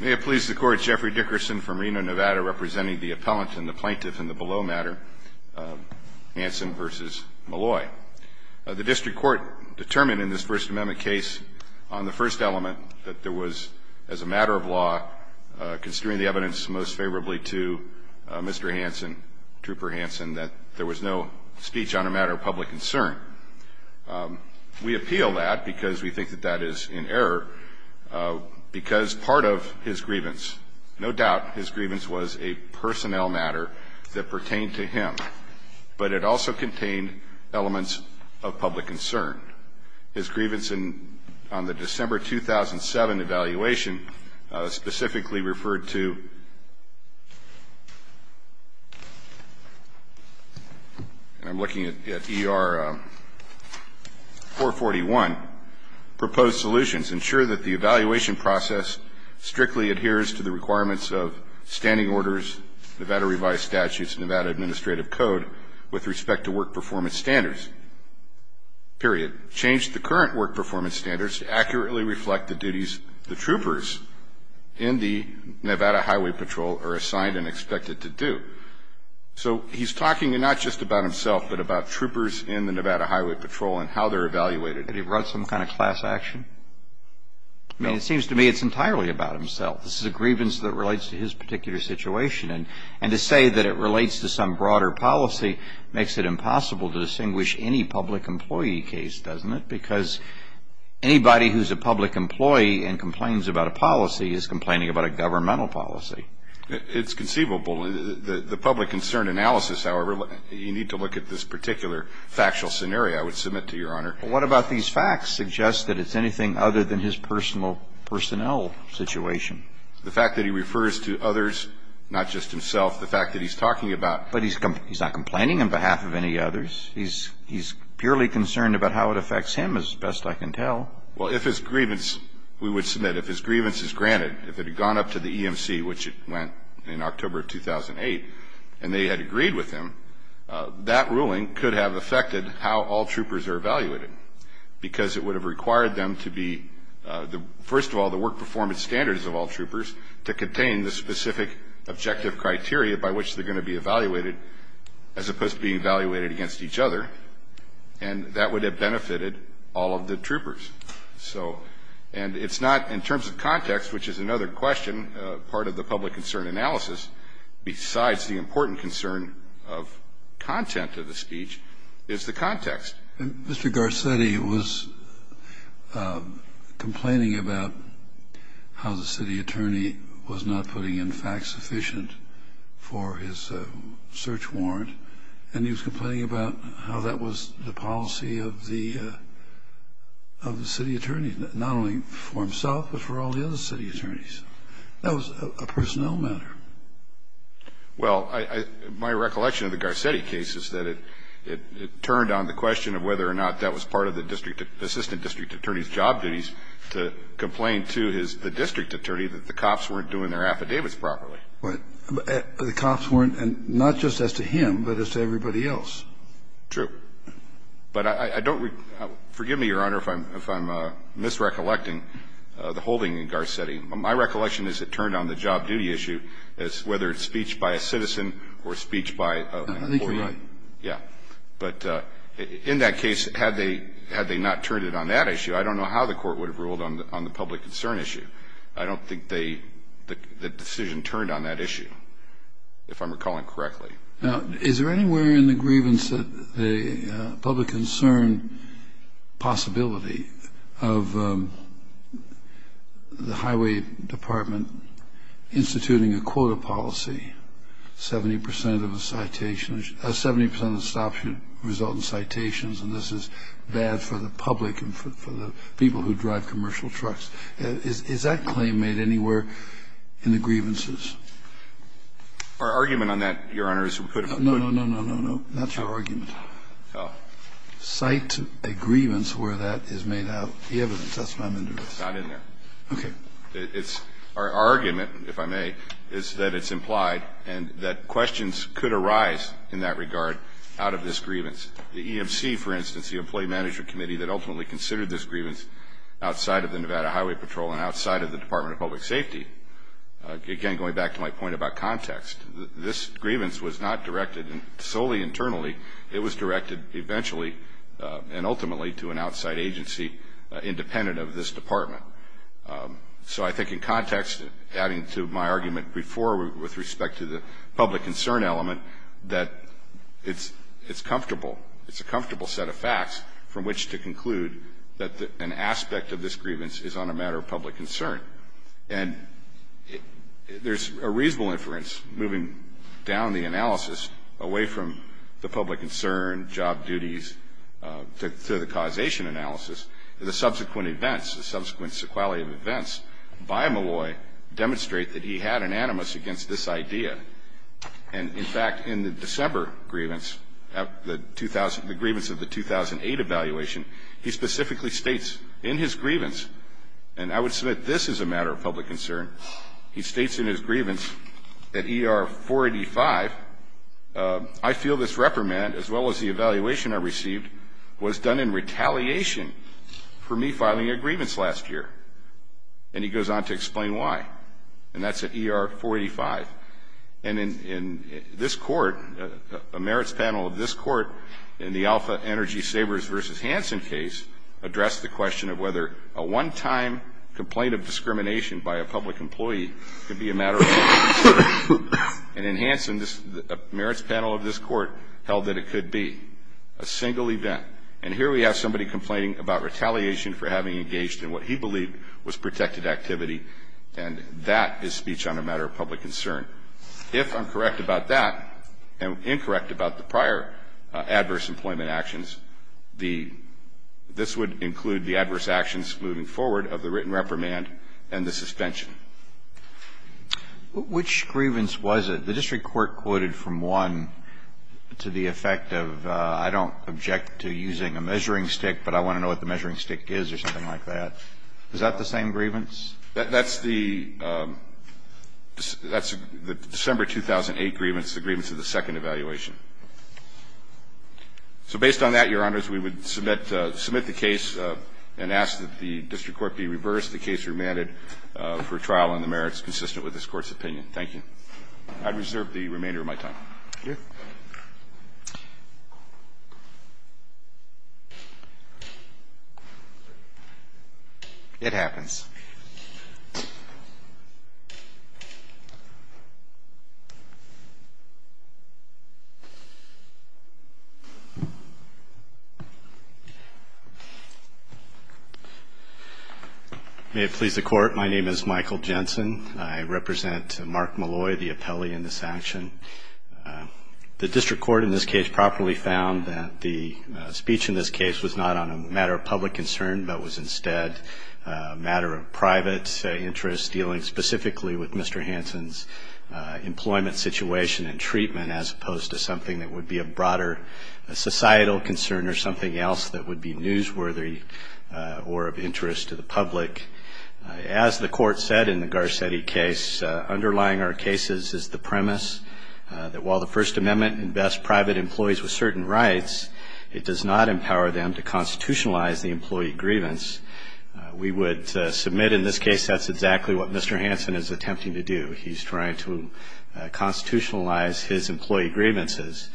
May it please the Court, Jeffrey Dickerson from Reno, Nevada, representing the Appellant and the Plaintiff in the below matter, Hansen v. Malloy. The District Court determined in this First Amendment case on the first element that there was, as a matter of law, considering the evidence most favorably to Mr. Hansen, Trooper Hansen, that there was no speech on a matter of public concern. We appeal that because we think that that is in error, because part of his grievance, no doubt his grievance was a personnel matter that pertained to him, but it also contained elements of public concern. His grievance on the December 2007 evaluation specifically referred to, and I'm looking at ER441, proposed solutions ensure that the evaluation process strictly adheres to the requirements of standing orders, Nevada revised statutes, Nevada administrative code with respect to work performance standards, period. Change the current work performance standards to accurately reflect the duties the troopers in the Nevada Highway Patrol are assigned and expected to do. So he's talking not just about himself, but about troopers in the Nevada Highway Patrol and how they're evaluated. Had he brought some kind of class action? I mean, it seems to me it's entirely about himself. This is a grievance that relates to his particular situation, and to say that it relates to some broader policy makes it impossible to distinguish any public employee case, doesn't it? Because anybody who's a public employee and complains about a policy is complaining about a governmental policy. It's conceivable. The public concern analysis, however, you need to look at this particular factual scenario, I would submit to Your Honor. What about these facts suggest that it's anything other than his personal personnel situation? The fact that he refers to others, not just himself, the fact that he's talking about. But he's not complaining on behalf of any others. He's purely concerned about how it affects him, as best I can tell. Well, if his grievance, we would submit, if his grievance is granted, if it had gone up to the EMC, which it went in October of 2008, and they had agreed with him, that ruling could have affected how all troopers are evaluated because it would have required them to be, first of all, the work performance standards of all troopers, to contain the specific objective criteria by which they're going to be evaluated as opposed to being evaluated against each other. And that would have benefited all of the troopers. So, and it's not in terms of context, which is another question, part of the public concern analysis, besides the important concern of content of the speech, is the context. Mr. Garcetti was complaining about how the city attorney was not putting in facts sufficient for his search warrant. And he was complaining about how that was the policy of the city attorney, not only for himself but for all the other city attorneys. That was a personnel matter. Well, my recollection of the Garcetti case is that it turned on the question of whether or not that was part of the district attorney's job duties to complain to the district attorney that the cops weren't doing their affidavits properly. But the cops weren't, and not just as to him, but as to everybody else. True. But I don't regret it. Forgive me, Your Honor, if I'm misrecollecting the holding in Garcetti. My recollection is it turned on the job duty issue, whether it's speech by a citizen or speech by an employee. I think you're right. Yeah. But in that case, had they not turned it on that issue, I don't know how the court would have ruled on the public concern issue. I don't think the decision turned on that issue, if I'm recalling correctly. Now, is there anywhere in the grievance that the public concern possibility of the highway department instituting a quota policy, 70 percent of a citation or 70 percent of a stop should result in citations, and this is bad for the public and for the people who drive commercial trucks? Is that claim made anywhere in the grievances? Our argument on that, Your Honor, is we put a footnote. No, no, no, no, no, no. Not your argument. Oh. Cite a grievance where that is made out the evidence. That's what I'm interested in. It's not in there. Okay. It's our argument, if I may, is that it's implied and that questions could arise in that regard out of this grievance. The EMC, for instance, the Employee Management Committee that ultimately considered this grievance outside of the Nevada Highway Patrol and outside of the context. This grievance was not directed solely internally. It was directed eventually and ultimately to an outside agency independent of this department. So I think in context, adding to my argument before with respect to the public concern element, that it's comfortable. It's a comfortable set of facts from which to conclude that an aspect of this grievance is on a matter of public concern. And there's a reasonable inference moving down the analysis away from the public concern, job duties, to the causation analysis, the subsequent events, the subsequent sequelae of events by Malloy demonstrate that he had an animus against this idea. And, in fact, in the December grievance, the grievance of the 2008 evaluation, he specifically states in his grievance, and I would submit this is a matter of public concern, he states in his grievance that ER 485, I feel this reprimand, as well as the evaluation I received, was done in retaliation for me filing a grievance last year. And he goes on to explain why. And that's at ER 485. And in this court, a merits panel of this court in the Alpha Energy Savers v. Hansen case addressed the question of whether a one-time complaint of discrimination by a public employee could be a matter of public concern. And in Hansen, a merits panel of this court held that it could be a single event. And here we have somebody complaining about retaliation for having engaged in what he believed was protected activity. And that is speech on a matter of public concern. If I'm correct about that, and incorrect about the prior adverse employment actions, the this would include the adverse actions moving forward of the written reprimand and the suspension. Which grievance was it? The district court quoted from one to the effect of I don't object to using a measuring stick, but I want to know what the measuring stick is or something like that. Is that the same grievance? That's the December 2008 grievance, the grievance of the second evaluation. So based on that, Your Honors, we would submit the case and ask that the district court be reversed, the case remanded for trial, and the merits consistent with this Court's opinion. Thank you. I'd reserve the remainder of my time. It happens. May it please the Court, my name is Michael Jensen. I represent Mark Malloy, the appellee in this action. The district court in this case properly found that the speech in this case was not on a matter of public concern, but was instead a matter of private interest dealing specifically with Mr. Hansen's employment situation and treatment as opposed to something that would be a broader societal concern or something else that would be newsworthy or of interest to the public. As the Court said in the Garcetti case, underlying our cases is the premise that while the First Amendment invests private employees with certain rights, it does not empower them to constitutionalize the employee grievance. We would submit in this case that's exactly what Mr. Hansen is attempting to do. He's trying to constitutionalize his employee grievances.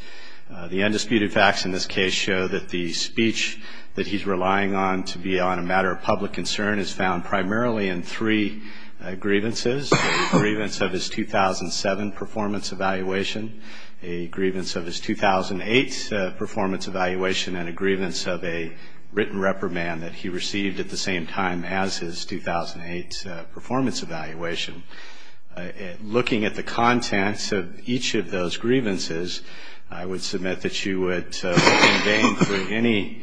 The undisputed facts in this case show that the speech that he's relying on to be on a matter of public concern is found primarily in three grievances, a grievance of his 2007 performance evaluation, a grievance of his 2008 performance evaluation, and a grievance of a written reprimand that he received at the same time as his 2008 performance evaluation. Looking at the contents of each of those grievances, I would submit that you would have to look in vain for any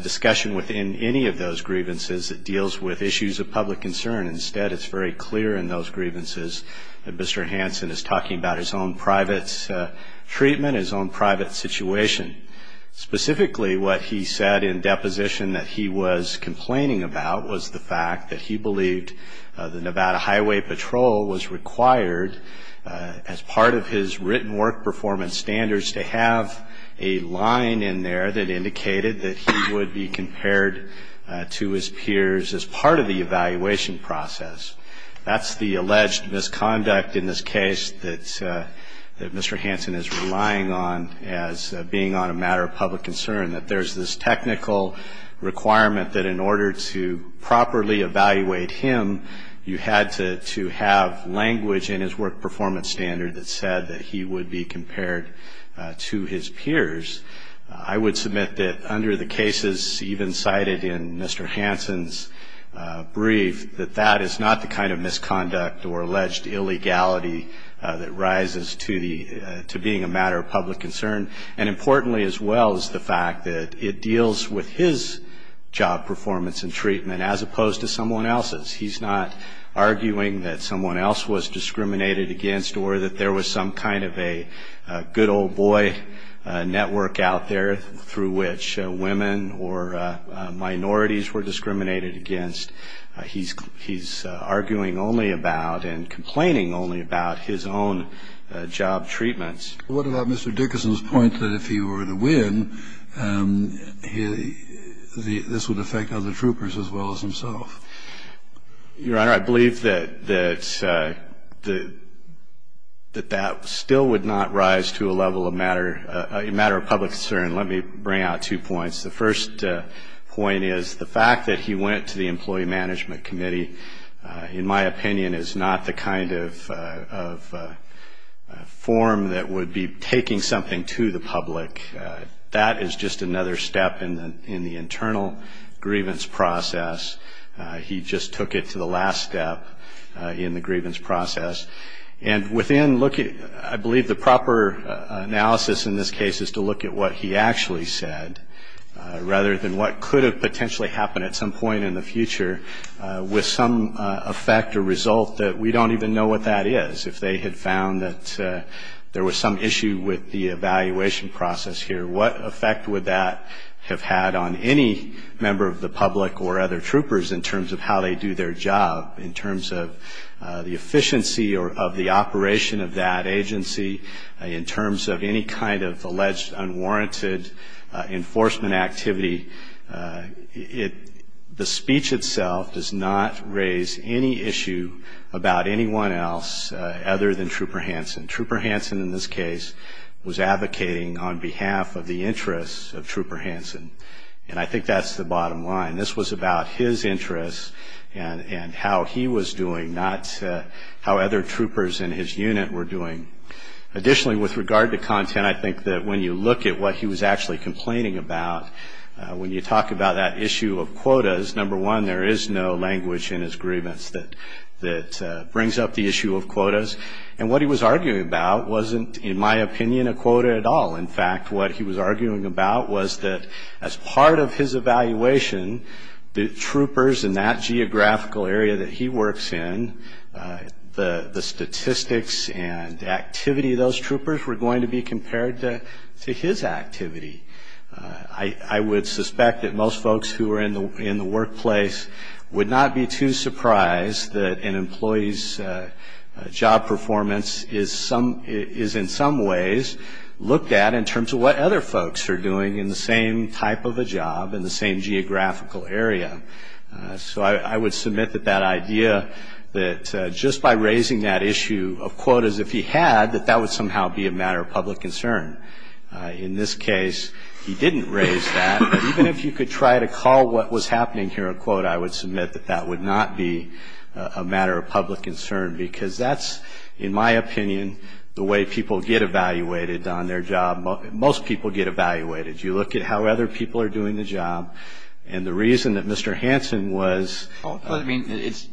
discussion within any of those grievances that deals with issues of public concern. Instead, it's very clear in those grievances that Mr. Hansen is talking about his own private treatment, his own private situation. Specifically, what he said in deposition that he was complaining about was the fact that he believed the Nevada Highway Patrol was required as part of his written work performance standards to have a line in there that indicated that he would be compared to his peers as part of the evaluation process. That's the alleged misconduct in this case that Mr. Hansen is relying on as being on a matter of public concern, that there's this technical requirement that in order to properly evaluate him, you had to have language in his work performance standard that said that he would be compared to his peers. I would submit that under the cases even cited in Mr. Hansen's brief, that that is not the kind of misconduct or alleged illegality that rises to being a matter of public concern. And importantly as well is the fact that it deals with his job performance and treatment as opposed to someone else's. He's not arguing that someone else was discriminated against or that there was some kind of a good old boy network out there through which women or minorities were discriminated against. He's arguing only about and complaining only about his own job treatments. What about Mr. Dickerson's point that if he were the win, this would affect other troopers as well as himself? Your Honor, I believe that that still would not rise to a level of matter of public concern. Let me bring out two points. The first point is the fact that he went to the Employee Management Committee, in my opinion, is not the kind of form that would be taking something to the public. That is just another step in the internal grievance process. He just took it to the last step in the grievance process. And within looking, I believe the proper analysis in this case is to look at what he actually said, rather than what could have potentially happened at some point in the future with some effect or result that we don't even know what that is. If they had found that there was some issue with the evaluation process here, what effect would that have had on any member of the public or other troopers in terms of how they do their job, in terms of the efficiency of the operation of that agency, in terms of any kind of alleged unwarranted enforcement activity? The speech itself does not raise any issue about anyone else in the public eye. Other than Trooper Hanson. Trooper Hanson, in this case, was advocating on behalf of the interests of Trooper Hanson. And I think that's the bottom line. This was about his interests and how he was doing, not how other troopers in his unit were doing. Additionally, with regard to content, I think that when you look at what he was actually complaining about, when you talk about that issue of quotas, number one, there is no language in his grievance that brings up the issue of quotas. And what he was arguing about wasn't, in my opinion, a quota at all. In fact, what he was arguing about was that as part of his evaluation, the troopers in that geographical area that he works in, the statistics and activity of those troopers were going to be compared to his activity. I would suspect that most folks who are in the workplace would not be too surprised that an employee's job performance is in some ways looked at in terms of what other folks are doing in the same type of a job, in the same geographical area. So I would submit that that idea that just by raising that issue of quotas, if he had, that that would somehow be a matter of public concern. In this case, he didn't raise that. But even if you could try to call what was happening here a quote, I would submit that that would not be a matter of public concern, because that's, in my opinion, the way people get evaluated on their job. Most people get evaluated. You look at how other people are doing the job. And the reason that Mr. Hansen was... I mean, it's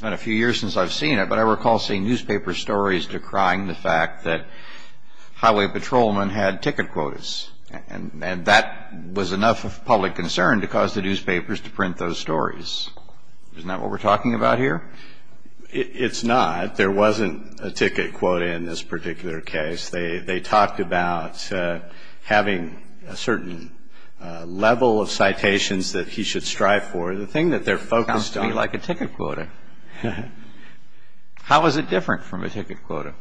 been a few years since I've seen it, but I recall seeing newspaper stories decrying the fact that highway patrolmen had ticket quotas. And that was enough of public concern to cause the newspapers to print those stories. Isn't that what we're talking about here? It's not. There wasn't a ticket quota in this particular case. They talked about having a certain level of citations that he should strive for. The thing that they're focused on... Sounds to me like a ticket quota. How is it different from a ticket quota?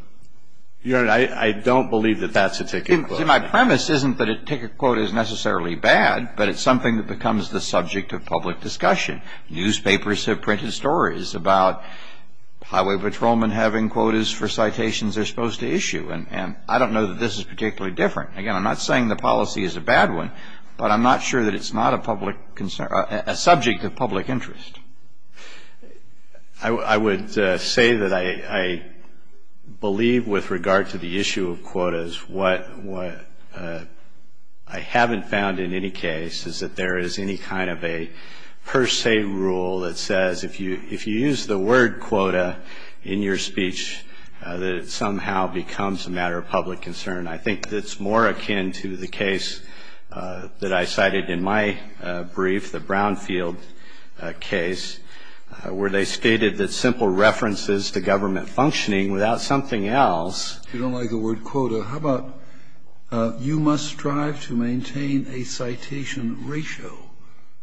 Your Honor, I don't believe that that's a ticket quota. See, my premise isn't that a ticket quota is necessarily bad, but it's something that becomes the subject of public discussion. And newspapers have printed stories about highway patrolmen having quotas for citations they're supposed to issue. And I don't know that this is particularly different. Again, I'm not saying the policy is a bad one, but I'm not sure that it's not a subject of public interest. I would say that I believe with regard to the issue of quotas, what I haven't found in any case is that there is any kind of a per se rule that says if you use the word quota in your speech, that it somehow becomes a matter of public concern. I think it's more akin to the case that I cited in my brief, the Brownfield case, where they stated that simple references to government functioning without something else. If you don't like the word quota, how about you must strive to maintain a citation ratio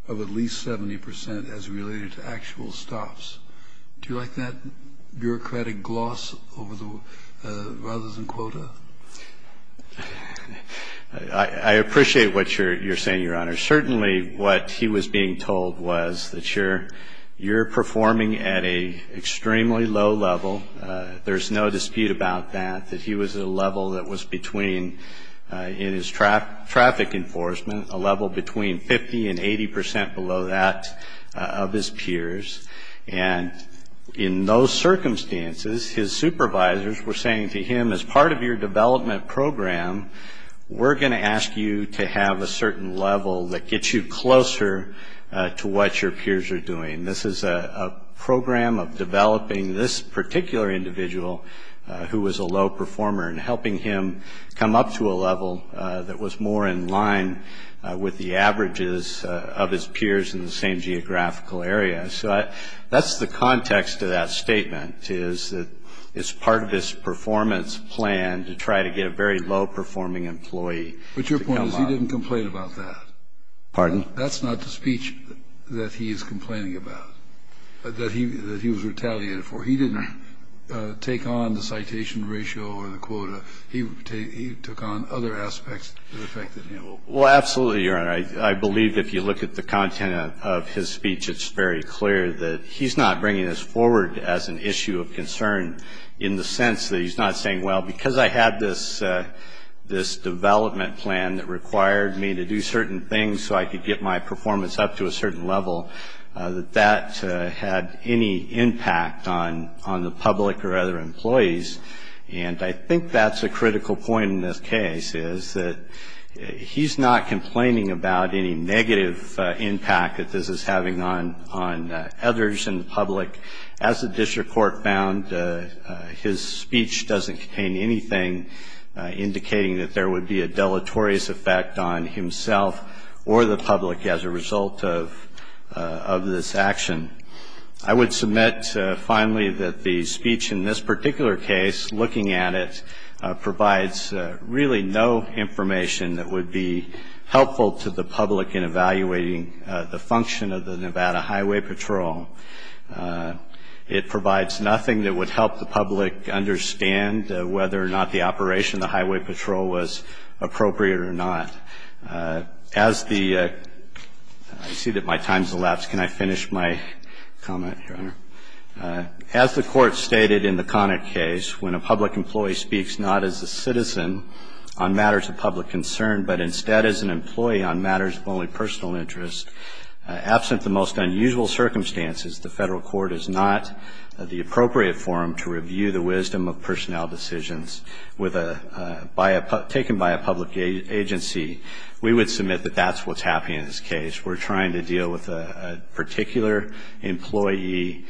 of at least 70% as related to actual stops. Do you like that bureaucratic gloss rather than quota? I appreciate what you're saying, Your Honor. Certainly what he was being told was that you're performing at an extremely low level. There's no dispute about that, that he was at a level that was between, in his traffic enforcement, a level between 50 and 80% below that of his peers. And in those circumstances, his supervisors were saying to him, as part of your development program, we're going to ask you to have a certain level that gets you closer to what your peers are doing. This is a program of developing this particular individual who was a low performer and helping him come up to a level that was more in line with the averages of his peers in the same geographical area. So that's the context of that statement, is that it's part of his performance plan to try to get a very low-performing employee to come up. But your point is he didn't complain about that. Pardon? That's not the speech that he's complaining about, that he was retaliated for. He didn't take on the citation ratio or the quota. He took on other aspects that affected him. Well, absolutely, Your Honor. I believe if you look at the content of his speech, it's very clear that he's not bringing this forward as an issue of concern in the sense that he's not saying, well, because I had this development plan that required me to do certain things so I could get my performance up to a certain level, that that had any impact on the public or other employees. And I think that's a critical point in this case, is that he's not complaining about any negative impact that this is having on others in the public. As the district court found, his speech doesn't contain anything indicating that there would be a deleterious effect on himself or the public as a result of this action. I would submit, finally, that the speech in this particular case, looking at it, provides really no information that would be helpful to the public in evaluating the function of the Nevada Highway Patrol. It provides nothing that would help the public understand whether or not the operation of the Highway Patrol was appropriate or not. I see that my time has elapsed. Can I finish my comment, Your Honor? As the Court stated in the Connick case, when a public employee speaks not as a citizen on matters of public concern, but instead as an employee on matters of only personal interest, absent the most unusual circumstances, the Federal Court is not the appropriate forum to review the wisdom of personnel decisions taken by a public agency. We would submit that that's what's happening in this case. We're trying to deal with a particular employee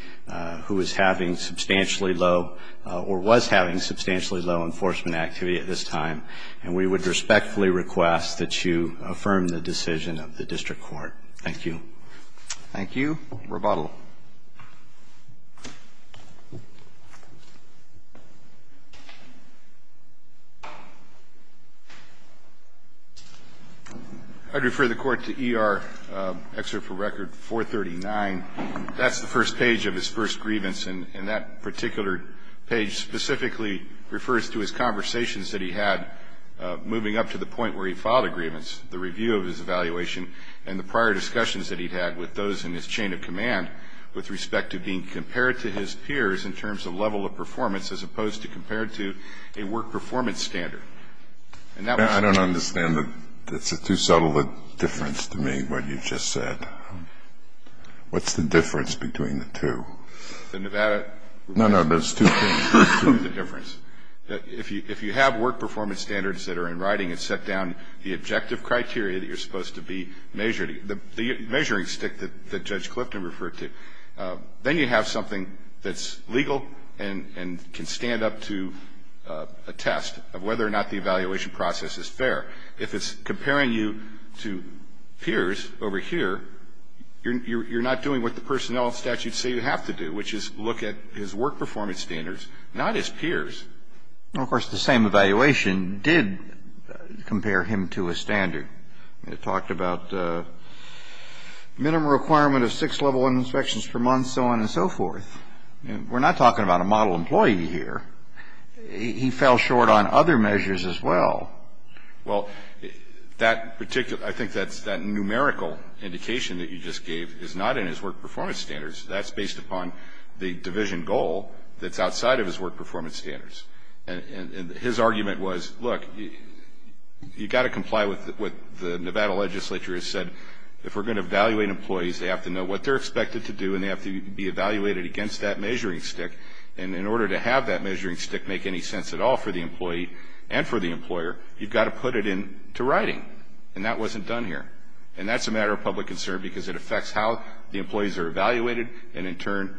who is having substantially low or was having substantially low enforcement activity at this time, and we would respectfully request that you affirm the decision of the district court. Thank you. Thank you. Rebuttal. I'd refer the Court to ER Excerpt for Record 439. That's the first page of his first grievance, and that particular page specifically refers to his conversations that he had moving up to the point where he filed a grievance, the review of his evaluation, and the prior discussions that he'd had with those in his chain of command with respect to being compared to his peers in terms of level of performance as opposed to compared to a work performance standard. I don't understand. That's a too subtle a difference to me, what you just said. What's the difference between the two? The Nevada review. No, no, there's two things. There's two of the difference. If you have work performance standards that are in writing, it's set down the objective criteria that you're supposed to be measuring, the measuring stick that Judge Clifton referred to. Then you have something that's legal and can stand up to a test of whether or not the evaluation process is fair. If it's comparing you to peers over here, you're not doing what the personnel statute say you have to do, which is look at his work performance standards, not his peers. Well, of course, the same evaluation did compare him to a standard. It talked about minimum requirement of six level inspections per month, so on and so forth. We're not talking about a model employee here. He fell short on other measures as well. Well, I think that numerical indication that you just gave is not in his work performance standards. That's based upon the division goal that's outside of his work performance standards. His argument was, look, you've got to comply with what the Nevada legislature has said. If we're going to evaluate employees, they have to know what they're expected to do, and they have to be evaluated against that measuring stick. And in order to have that measuring stick make any sense at all for the employee and for the employer, you've got to put it into writing. And that wasn't done here. And that's a matter of public concern because it affects how the employees are evaluated and, in turn,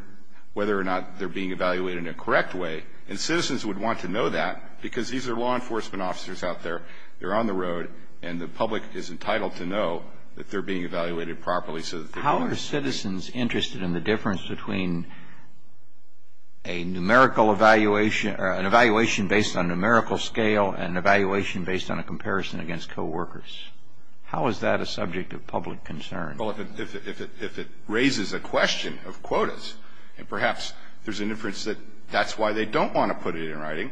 whether or not they're being evaluated in a correct way. And citizens would want to know that because these are law enforcement officers out there. They're on the road, and the public is entitled to know that they're being evaluated properly. How are citizens interested in the difference between a numerical evaluation or an evaluation based on a numerical scale and an evaluation based on a comparison against coworkers? How is that a subject of public concern? Well, if it raises a question of quotas, and perhaps there's an inference that that's why they don't want to put it in writing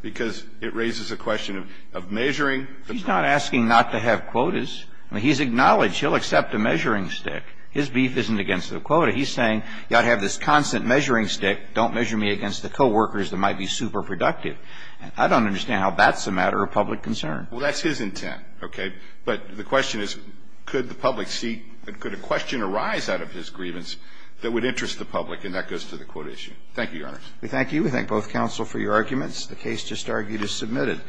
because it raises a question of measuring. He's not asking not to have quotas. I mean, he's acknowledged he'll accept a measuring stick. His beef isn't against the quota. He's saying you ought to have this constant measuring stick. Don't measure me against the coworkers that might be super productive. I don't understand how that's a matter of public concern. Well, that's his intent, okay? But the question is, could the public see ñ could a question arise out of his grievance that would interest the public? And that goes to the quota issue. Thank you, Your Honor. We thank you. We thank both counsel for your arguments. The case just argued is submitted.